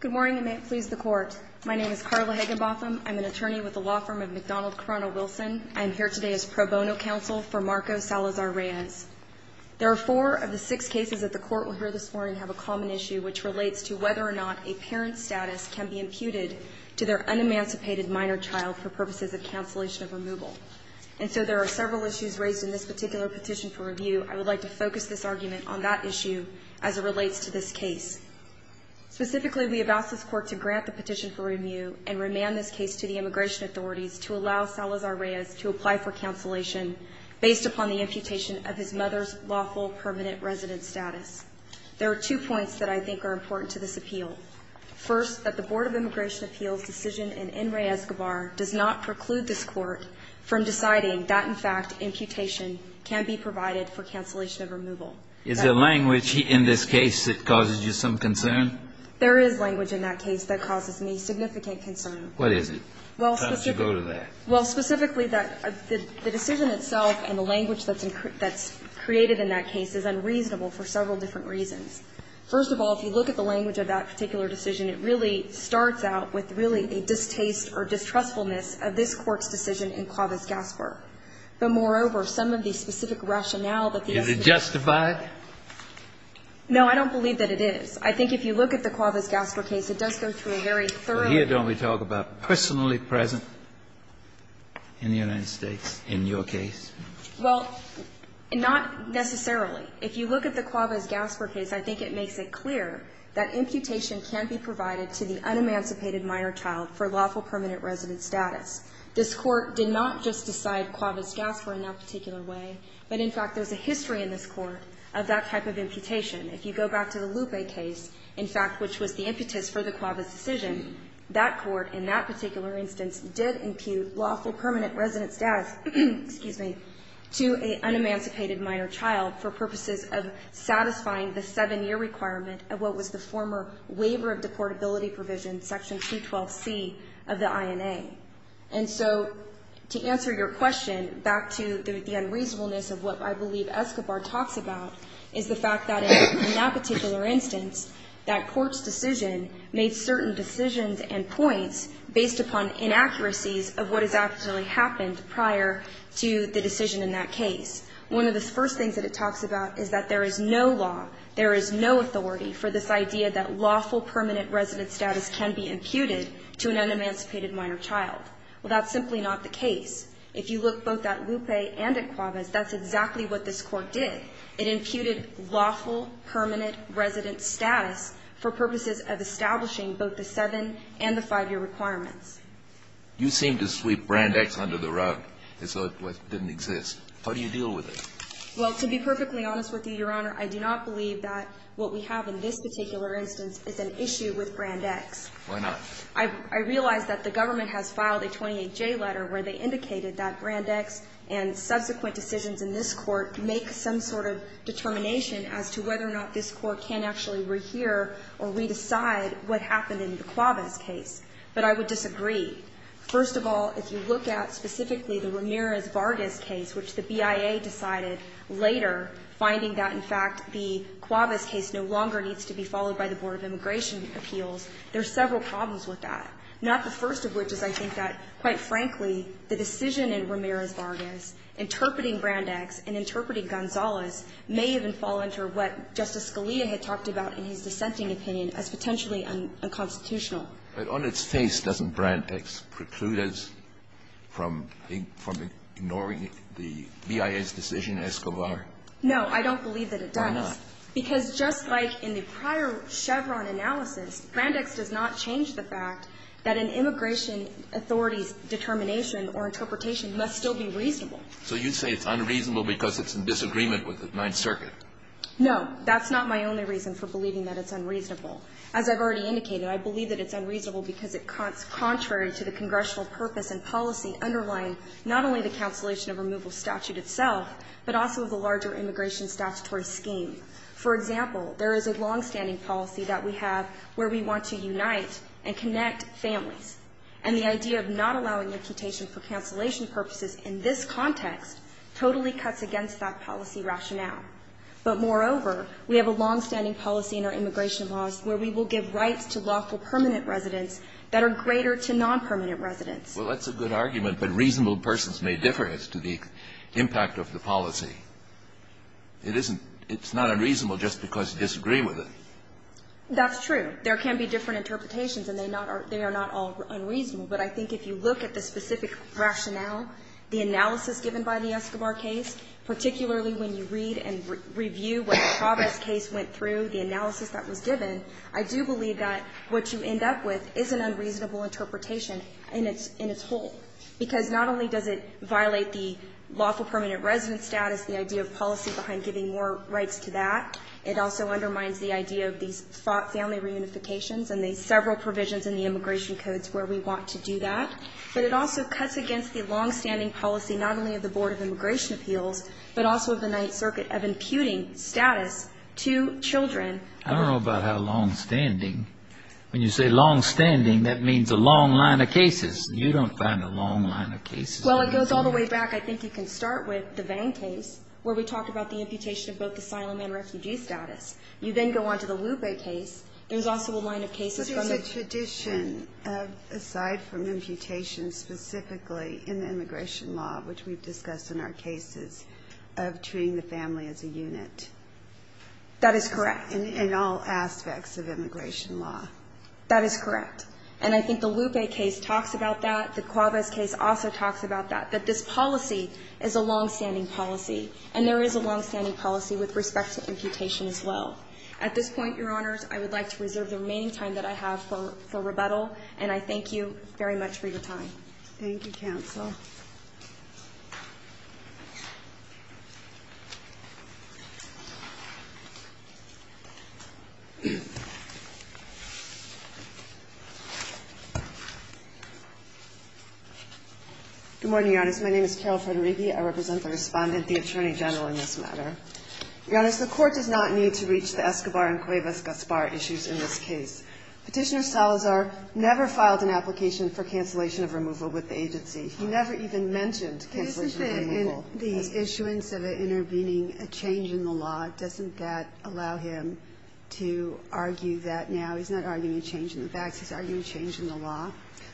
Good morning and may it please the Court. My name is Carla Higginbotham. I'm an attorney with the law firm of McDonald-Corona-Wilson. I am here today as pro bono counsel for Marco Salazar-Reyes. There are four of the six cases that the Court will hear this morning have a common issue, which relates to whether or not a parent's status can be imputed to their unemancipated minor child for purposes of cancellation of removal. And so there are several issues raised in this particular petition for review. I would like to focus this argument on that issue as it relates to this case. Specifically, we have asked this Court to grant the petition for review and remand this case to the immigration authorities to allow Salazar-Reyes to apply for cancellation based upon the imputation of his mother's lawful permanent resident status. There are two points that I think are important to this appeal. First, that the Board of Immigration Appeals' decision in Enriquez-Guevara does not preclude this Court from deciding that, in fact, imputation can be provided for cancellation of removal. Is there language in this case that causes you some concern? There is language in that case that causes me significant concern. What is it? How did you go to that? Well, specifically, the decision itself and the language that's created in that case is unreasonable for several different reasons. First of all, if you look at the language of that particular decision, it really starts out with really a distaste or distrustfulness of this Court's decision in Clavis-Gasper. But, moreover, some of the specific rationale that the U.S. Supreme Court has. Is it justified? No, I don't believe that it is. I think if you look at the Clavis-Gasper case, it does go through very thoroughly. But here don't we talk about personally present in the United States in your case? Well, not necessarily. If you look at the Clavis-Gasper case, I think it makes it clear that imputation can be provided to the unemancipated minor child for lawful permanent resident status. This Court did not just decide Clavis-Gasper in that particular way, but, in fact, there's a history in this Court of that type of imputation. If you go back to the Lupe case, in fact, which was the impetus for the Clavis decision, that Court in that particular instance did impute lawful permanent resident status to an unemancipated minor child for purposes of satisfying the seven-year requirement of what was the former waiver of deportability provision, section 212C of the INA. And so to answer your question back to the unreasonableness of what I believe Escobar talks about is the fact that in that particular instance, that Court's decision made certain decisions and points based upon inaccuracies of what has actually happened prior to the decision in that case. One of the first things that it talks about is that there is no law, there is no authority for this idea that lawful permanent resident status can be imputed to an unemancipated minor child. Well, that's simply not the case. If you look both at Lupe and at Clavis, that's exactly what this Court did. It imputed lawful permanent resident status for purposes of establishing both the seven- and the five-year requirements. You seem to sweep Brand X under the rug as though it didn't exist. How do you deal with it? Well, to be perfectly honest with you, Your Honor, I do not believe that what we have in this particular instance is an issue with Brand X. Why not? I realize that the government has filed a 28J letter where they indicated that Brand X and subsequent decisions in this Court make some sort of determination as to whether or not this Court can actually rehear or re-decide what happened in the Clavis case. But I would disagree. First of all, if you look at specifically the Ramirez-Vargas case, which the BIA decided later, finding that, in fact, the Clavis case no longer needs to be followed by the Board of Immigration Appeals, there's several problems with that, not the first of which is, I think, that, quite frankly, the decision in Ramirez-Vargas interpreting Brand X and interpreting Gonzales may even fall under what Justice Scalia had talked about in his dissenting opinion as potentially unconstitutional. But on its face, doesn't Brand X preclude us from ignoring the BIA's decision in Escobar? No, I don't believe that it does. Why not? Because just like in the prior Chevron analysis, Brand X does not change the fact that an immigration authority's determination or interpretation must still be reasonable. So you say it's unreasonable because it's in disagreement with the Ninth Circuit? No. That's not my only reason for believing that it's unreasonable. As I've already indicated, I believe that it's unreasonable because it's contrary to the congressional purpose and policy underlying not only the cancellation of removal statute itself, but also the larger immigration statutory scheme. For example, there is a longstanding policy that we have where we want to unite and connect families. And the idea of not allowing imputation for cancellation purposes in this context totally cuts against that policy rationale. But, moreover, we have a longstanding policy in our immigration laws where we will give rights to lawful permanent residents that are greater to nonpermanent residents. Well, that's a good argument, but reasonable persons may differ as to the impact of the policy. It isn't – it's not unreasonable just because you disagree with it. That's true. There can be different interpretations, and they not are – they are not all unreasonable. But I think if you look at the specific rationale, the analysis given by the Escobar case, particularly when you read and review what the Travis case went through, the analysis that was given, I do believe that what you end up with is an unreasonable interpretation in its whole, because not only does it violate the lawful permanent resident status, the idea of policy behind giving more rights to that, it also undermines the idea of these family reunifications and the several provisions in the immigration codes where we want to do that, but it also cuts against the longstanding policy not only of the Board of Immigration Appeals, but also of the Ninth Circuit of imputing status to children. I don't know about how longstanding. When you say longstanding, that means a long line of cases. You don't find a long line of cases. Well, it goes all the way back. I think you can start with the Vang case, where we talked about the imputation of both asylum and refugee status. You then go on to the Lube case. There's also a line of cases from the – But there's a tradition of, aside from imputation specifically in the immigration law, which we've discussed in our cases, of treating the family as a unit. That is correct. In all aspects of immigration law. That is correct. And I think the Lupe case talks about that. The Cuevas case also talks about that, that this policy is a longstanding policy, and there is a longstanding policy with respect to imputation as well. At this point, Your Honors, I would like to reserve the remaining time that I have for rebuttal, and I thank you very much for your time. Thank you, counsel. Good morning, Your Honors. My name is Carol Federighi. I represent the Respondent, the Attorney General, in this matter. Your Honors, the Court does not need to reach the Escobar and Cuevas-Gaspar issues in this case. Petitioner Salazar never filed an application for cancellation of removal with the agency. He never even mentioned cancellation of removal. Isn't it in the issuance of intervening a change in the law, doesn't that allow him to argue that now? He's not arguing a change in the facts. He's arguing a change in the law.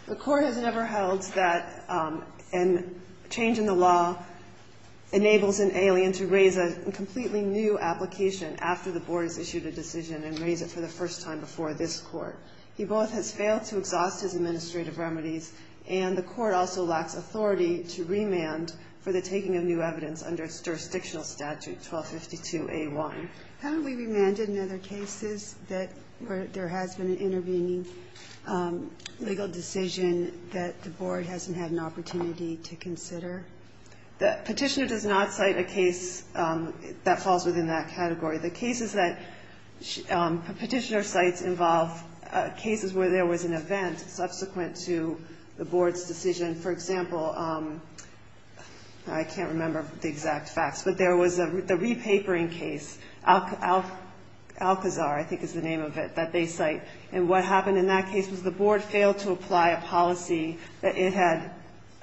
The Court has never held that a change in the law enables an alien to raise a completely new application after the board has issued a decision and raise it for the first time before this Court. He both has failed to exhaust his administrative remedies, and the Court also lacks authority to remand for the taking of new evidence under jurisdictional statute 1252A1. Haven't we remanded in other cases that where there has been an intervening legal decision that the board hasn't had an opportunity to consider? The petitioner does not cite a case that falls within that category. The cases that petitioner cites involve cases where there was an event subsequent to the board's decision. For example, I can't remember the exact facts, but there was the re-papering case, Alcazar, I think is the name of it, that they cite. And what happened in that case was the board failed to apply a policy that it had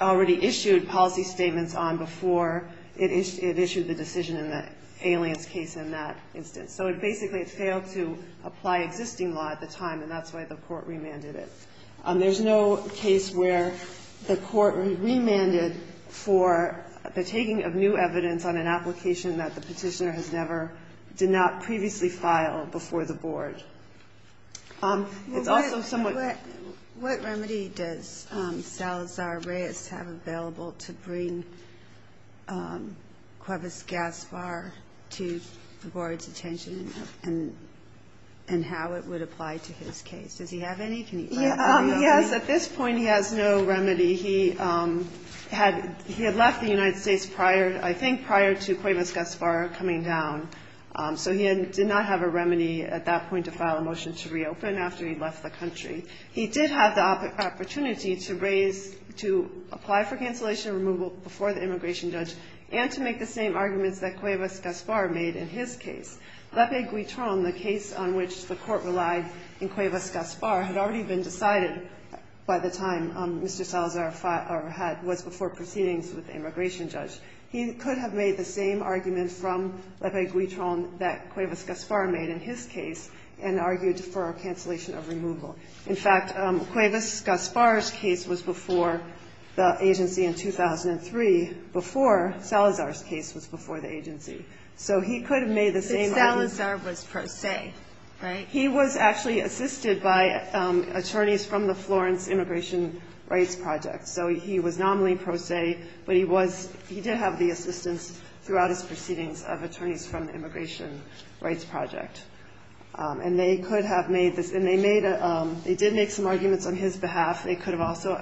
already issued policy statements on before it issued the decision in the alien's case in that instance. So it basically failed to apply existing law at the time, and that's why the Court remanded it. There's no case where the Court remanded for the taking of new evidence on an application that the petitioner has never, did not previously file before the board. It's also somewhat ---- Yes, at this point he has no remedy. He had left the United States prior, I think prior to Cuevas-Gaspar coming down. So he did not have a remedy at that point to file a motion to reopen after he left the country. He did have the opportunity to raise, to apply for cancellation of removal before the immigration judge and to make the same arguments that Cuevas-Gaspar made in his case. Lepe-Guitron, the case on which the Court relied in Cuevas-Gaspar, had already been decided by the time Mr. Salazar had, was before proceedings with the immigration judge. He could have made the same argument from Lepe-Guitron that Cuevas-Gaspar made in his case and argued for a cancellation of removal. In fact, Cuevas-Gaspar's case was before the agency in 2003, before Salazar's case was before the agency. So he could have made the same argument. But Salazar was pro se, right? He was actually assisted by attorneys from the Florence Immigration Rights Project. So he was nominally pro se, but he was, he did have the assistance throughout his proceedings of attorneys from the Immigration Rights Project. And they could have made this, and they made a, they did make some arguments on his behalf. They could have also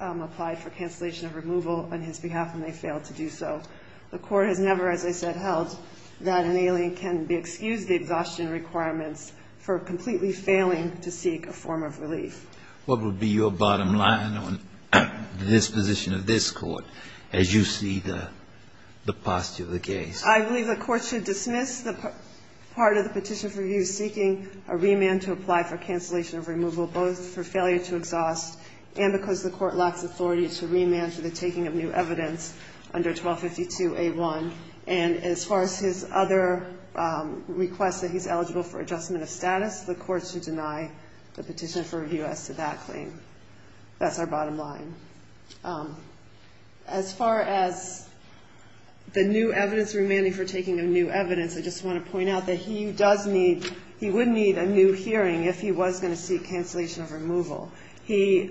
applied for cancellation of removal on his behalf, and they failed to do so. The Court has never, as I said, held that an alien can be excused the exhaustion requirements for completely failing to seek a form of relief. What would be your bottom line on this position of this Court as you see the, the postulate of the case? I believe the Court should dismiss the part of the petition for review seeking a remand to apply for cancellation of removal, both for failure to exhaust and because the Court lacks authority to remand for the taking of new evidence under 1252A1. And as far as his other request that he's eligible for adjustment of status, the Court should deny the petition for review as to that claim. That's our bottom line. As far as the new evidence remanding for taking of new evidence, I just want to point out that he does need, he would need a new hearing if he was going to seek cancellation of removal. He,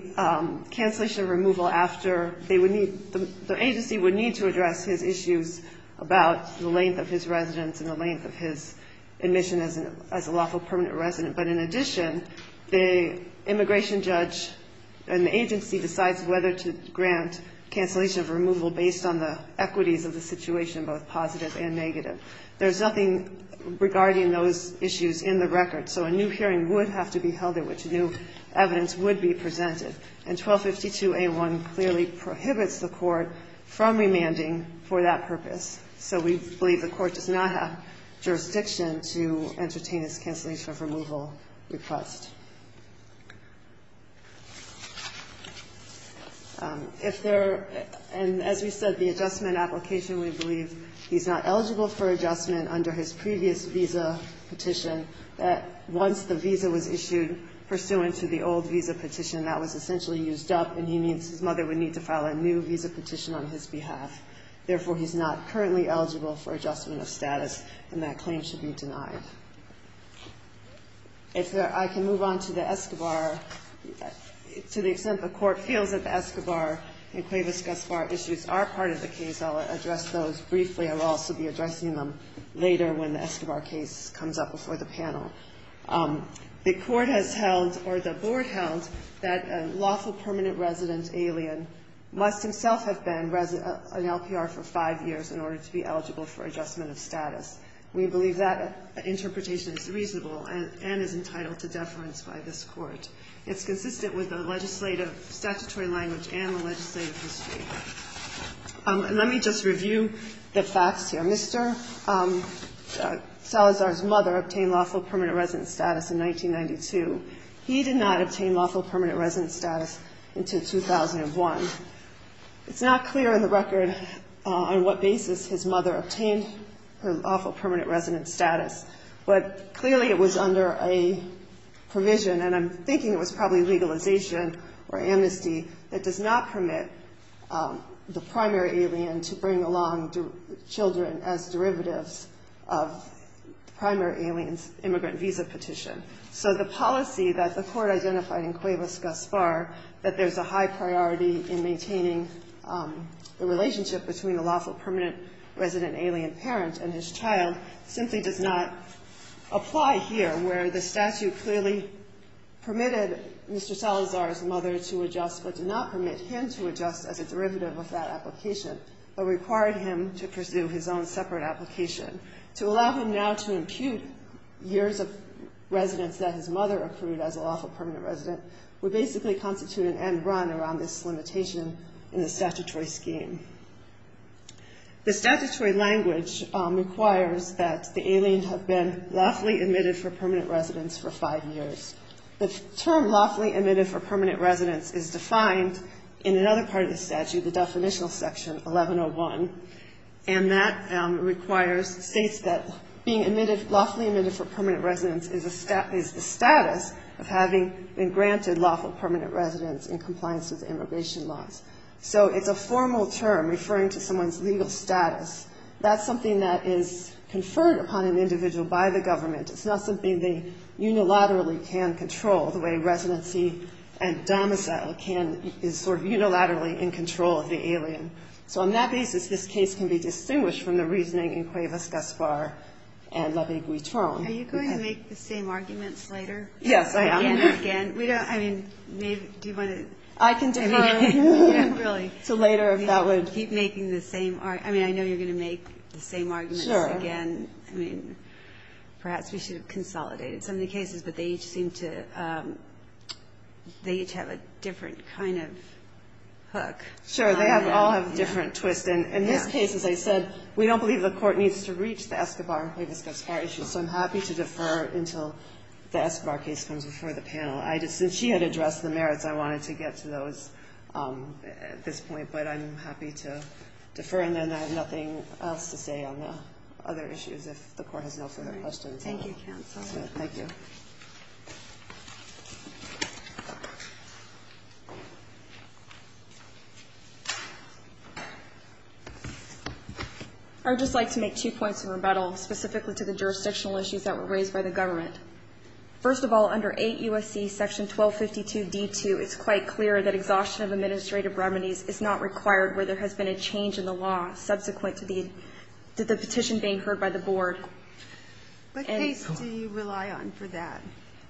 cancellation of removal after they would need, the agency would need to address his issues about the length of his residence and the length of his admission as a lawful permanent resident. But in addition, the immigration judge and the agency decides whether to grant cancellation of removal based on the equities of the situation, both positive and negative. There's nothing regarding those issues in the record. So a new hearing would have to be held at which new evidence would be presented. And 1252A1 clearly prohibits the Court from remanding for that purpose. So we believe the Court does not have jurisdiction to entertain his cancellation of removal request. If there, and as we said, the adjustment application, we believe he's not eligible for adjustment under his previous visa petition, that once the visa was issued pursuant to the old visa petition, that was essentially used up and he needs, his mother would need to file a new visa petition on his behalf. Therefore, he's not currently eligible for adjustment of status and that claim should be denied. If there, I can move on to the Escobar. To the extent the Court feels that the Escobar and Cuevas-Gaspar issues are part of the case, I'll address those briefly. I will also be addressing them later when the Escobar case comes up before the panel. The Court has held, or the Board held, that a lawful permanent resident alien must himself have been an LPR for five years in order to be eligible for adjustment of status. We believe that interpretation is reasonable and is entitled to deference by this Court. It's consistent with the legislative statutory language and the legislative history. Let me just review the facts here. Mr. Salazar's mother obtained lawful permanent resident status in 1992. He did not obtain lawful permanent resident status until 2001. It's not clear in the record on what basis his mother obtained her lawful permanent resident status, but clearly it was under a provision, and I'm thinking it was probably legalization or amnesty, that does not permit the primary alien to bring along children as derivatives of the primary alien's immigrant visa petition. So the policy that the Court identified in Cuevas-Gaspar, that there's a high priority in maintaining the relationship between a lawful permanent resident alien parent and his child, simply does not apply here, where the statute clearly permitted Mr. Salazar's mother to adjust, but did not permit him to adjust as a derivative of that application, but required him to pursue his own separate application. To allow him now to impute years of residence that his mother accrued as a lawful permanent resident would basically constitute an end run around this limitation in the statutory scheme. The statutory language requires that the alien have been lawfully admitted for permanent residence for five years. The term lawfully admitted for permanent residence is defined in another part of the statute, the definitional section, 1101, and that requires, states that being admitted, lawfully admitted for permanent residence is the status of having been granted lawful permanent residence in compliance with immigration laws. So it's a formal term referring to someone's legal status. That's something that is conferred upon an individual by the government. It's not something they unilaterally can control the way residency and domicile can, is sort of unilaterally in control of the alien. So on that basis, this case can be distinguished from the reasoning in Cuevas-Gaspar and La Viguitron. Are you going to make the same arguments later? Yes, I am. Again and again? We don't, I mean, maybe, do you want to? I can defer. Really. So later if that would. Keep making the same, I mean, I know you're going to make the same arguments again. I mean, perhaps we should have consolidated some of the cases, but they each seem to, they each have a different kind of hook. Sure, they all have a different twist. And in this case, as I said, we don't believe the court needs to reach the Escobar and Cuevas-Gaspar issues. So I'm happy to defer until the Escobar case comes before the panel. I just, since she had addressed the merits, I wanted to get to those at this point, but I'm happy to defer. And then I have nothing else to say on the other issues if the court has no further questions. Thank you, counsel. Thank you. I would just like to make two points of rebuttal, specifically to the jurisdictional issues that were raised by the government. First of all, under 8 U.S.C. section 1252 D.2, it's quite clear that exhaustion of administrative remedies is not required where there has been a change in the law subsequent to the petition being heard by the board. What case do you rely on for that?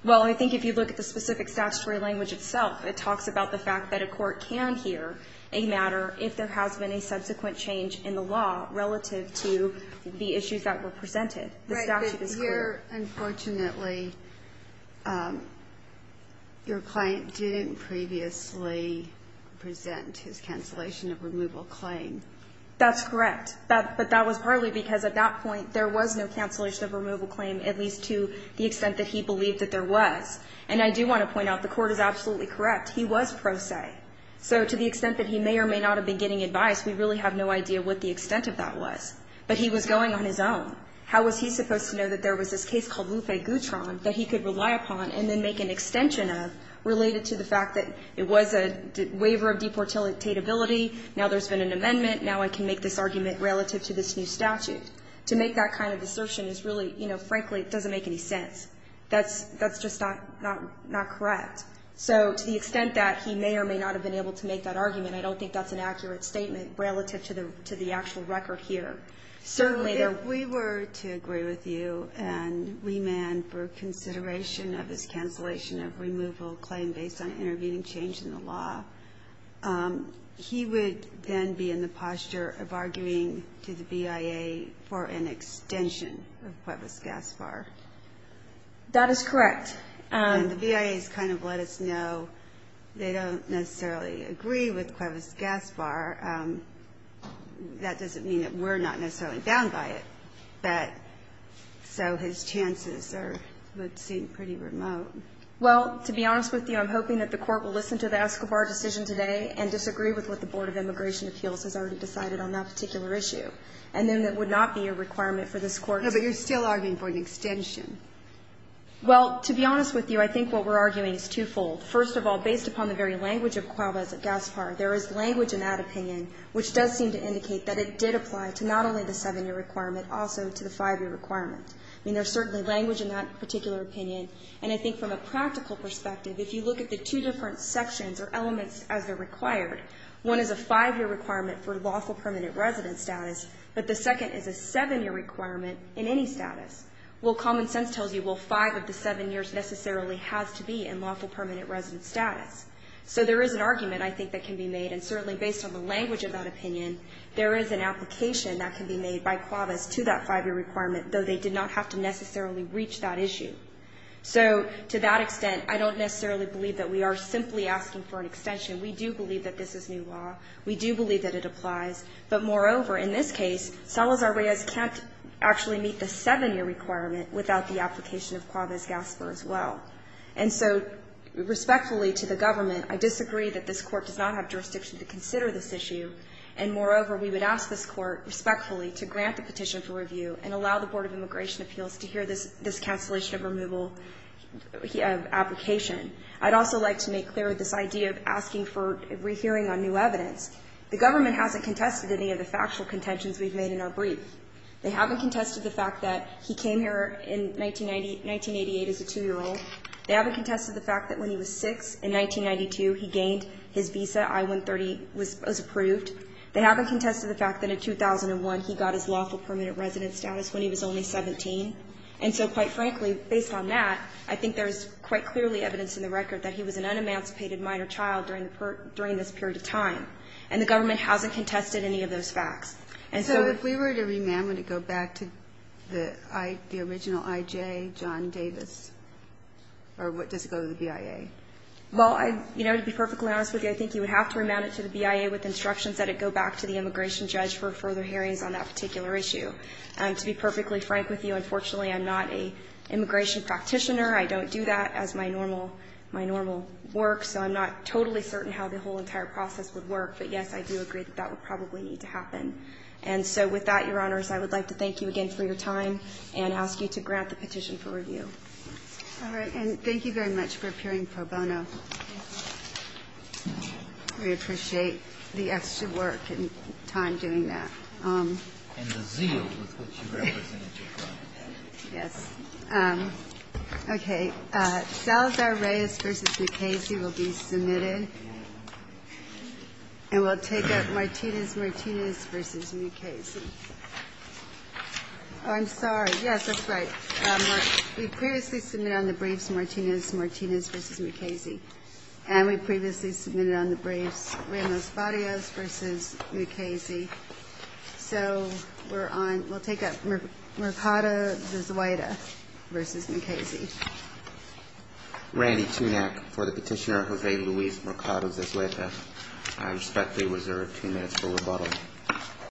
Well, I think if you look at the specific statutory language itself, it talks about the fact that a court can hear a matter if there has been a subsequent change in the law relative to the issues that were presented. The statute is clear. Right, but here, unfortunately, your client didn't previously present his cancellation of removal claim. That's correct, but that was partly because at that point, there was no cancellation of removal claim, at least to the extent that he believed that there was. And I do want to point out, the court is absolutely correct. He was pro se. So to the extent that he may or may not have been getting advice, we really have no idea what the extent of that was. But he was going on his own. How was he supposed to know that there was this case called Luffé-Goutron that he could rely upon and then make an extension of related to the fact that it was a waiver of deportatability, now there's been an amendment, now I can make this argument relative to this new statute? To make that kind of assertion is really, you know, frankly, it doesn't make any sense. That's just not correct. So to the extent that he may or may not have been able to make that argument, I don't think that's an accurate statement relative to the actual record here. Certainly, there are... If we were to agree with you and remand for consideration of this cancellation of removal claim based on intervening change in the law, he would then be in the posture of arguing to the BIA for an extension of Pueblos-Gaspar. That is correct. And the BIA has kind of let us know they don't necessarily agree with Pueblos-Gaspar. That doesn't mean that we're not necessarily bound by it, but so his chances would seem pretty remote. Well, to be honest with you, I'm hoping that the court will listen to the Escobar decision today and disagree with what the Board of Immigration Appeals has already decided on that particular issue. And then that would not be a requirement for this court to... No, but you're still arguing for an extension. Well, to be honest with you, I think what we're arguing is twofold. First of all, based upon the very language of Pueblos-Gaspar, there is language in that opinion which does seem to indicate that it did apply to not only the seven-year requirement, also to the five-year requirement. I mean, there's certainly language in that particular opinion. And I think from a practical perspective, if you look at the two different sections or elements as they're required, one is a five-year requirement for lawful permanent resident status, but the second is a seven-year requirement in any status. Well, common sense tells you, well, five of the seven years necessarily has to be in lawful permanent resident status. So there is an argument, I think, that can be made. And certainly, based on the language of that opinion, there is an application that can be made by CUAVAS to that five-year requirement, though they did not have to necessarily reach that issue. So to that extent, I don't necessarily believe that we are simply asking for an extension. We do believe that this is new law. We do believe that it applies. But moreover, in this case, Salazar-Reyes can't actually meet the seven-year requirement without the application of CUAVAS-GASPER as well. And so, respectfully to the government, I disagree that this Court does not have jurisdiction to consider this issue. And moreover, we would ask this Court, respectfully, to grant the petition for review and allow the Board of Immigration Appeals to hear this cancellation of removal of application. I'd also like to make clear this idea of asking for rehearing on new evidence. The government hasn't contested any of the factual contentions we've made in our brief. They haven't contested the fact that he came here in 1980 as a 2-year-old. They haven't contested the fact that when he was 6, in 1992, he gained his visa, I-130 was approved. They haven't contested the fact that in 2001, he got his lawful permanent resident status when he was only 17. And so, quite frankly, based on that, I think there's quite clearly evidence in the record that he was an unemancipated minor child during this period of time. And the government hasn't contested any of those facts. And so if we were to remand, would it go back to the original I.J., John Davis, or what, does it go to the BIA? Well, I, you know, to be perfectly honest with you, I think you would have to remand it to the BIA with instructions that it go back to the immigration judge for further hearings on that particular issue. To be perfectly frank with you, unfortunately, I'm not an immigration practitioner. I don't do that as my normal work, so I'm not totally certain how the whole entire process would work. But, yes, I do agree that that would probably need to happen. And so with that, Your Honors, I would like to thank you again for your time and ask you to grant the petition for review. All right. And thank you very much for appearing pro bono. We appreciate the extra work and time doing that. And the zeal with which you represented your client. Yes. Okay. Salazar-Reyes v. Ducasey will be submitted. And we'll take up Martinez-Martinez v. Ducasey. Oh, I'm sorry. Yes, that's right. We previously submitted on the briefs Martinez-Martinez v. Ducasey. And we previously submitted on the briefs Ramos-Barrios v. Ducasey. So we're on, we'll take up Mercado-Vizueta v. Ducasey. Randy Tunack for the petitioner Jose Luis Mercado-Vizueta. I respectfully reserve two minutes for rebuttal.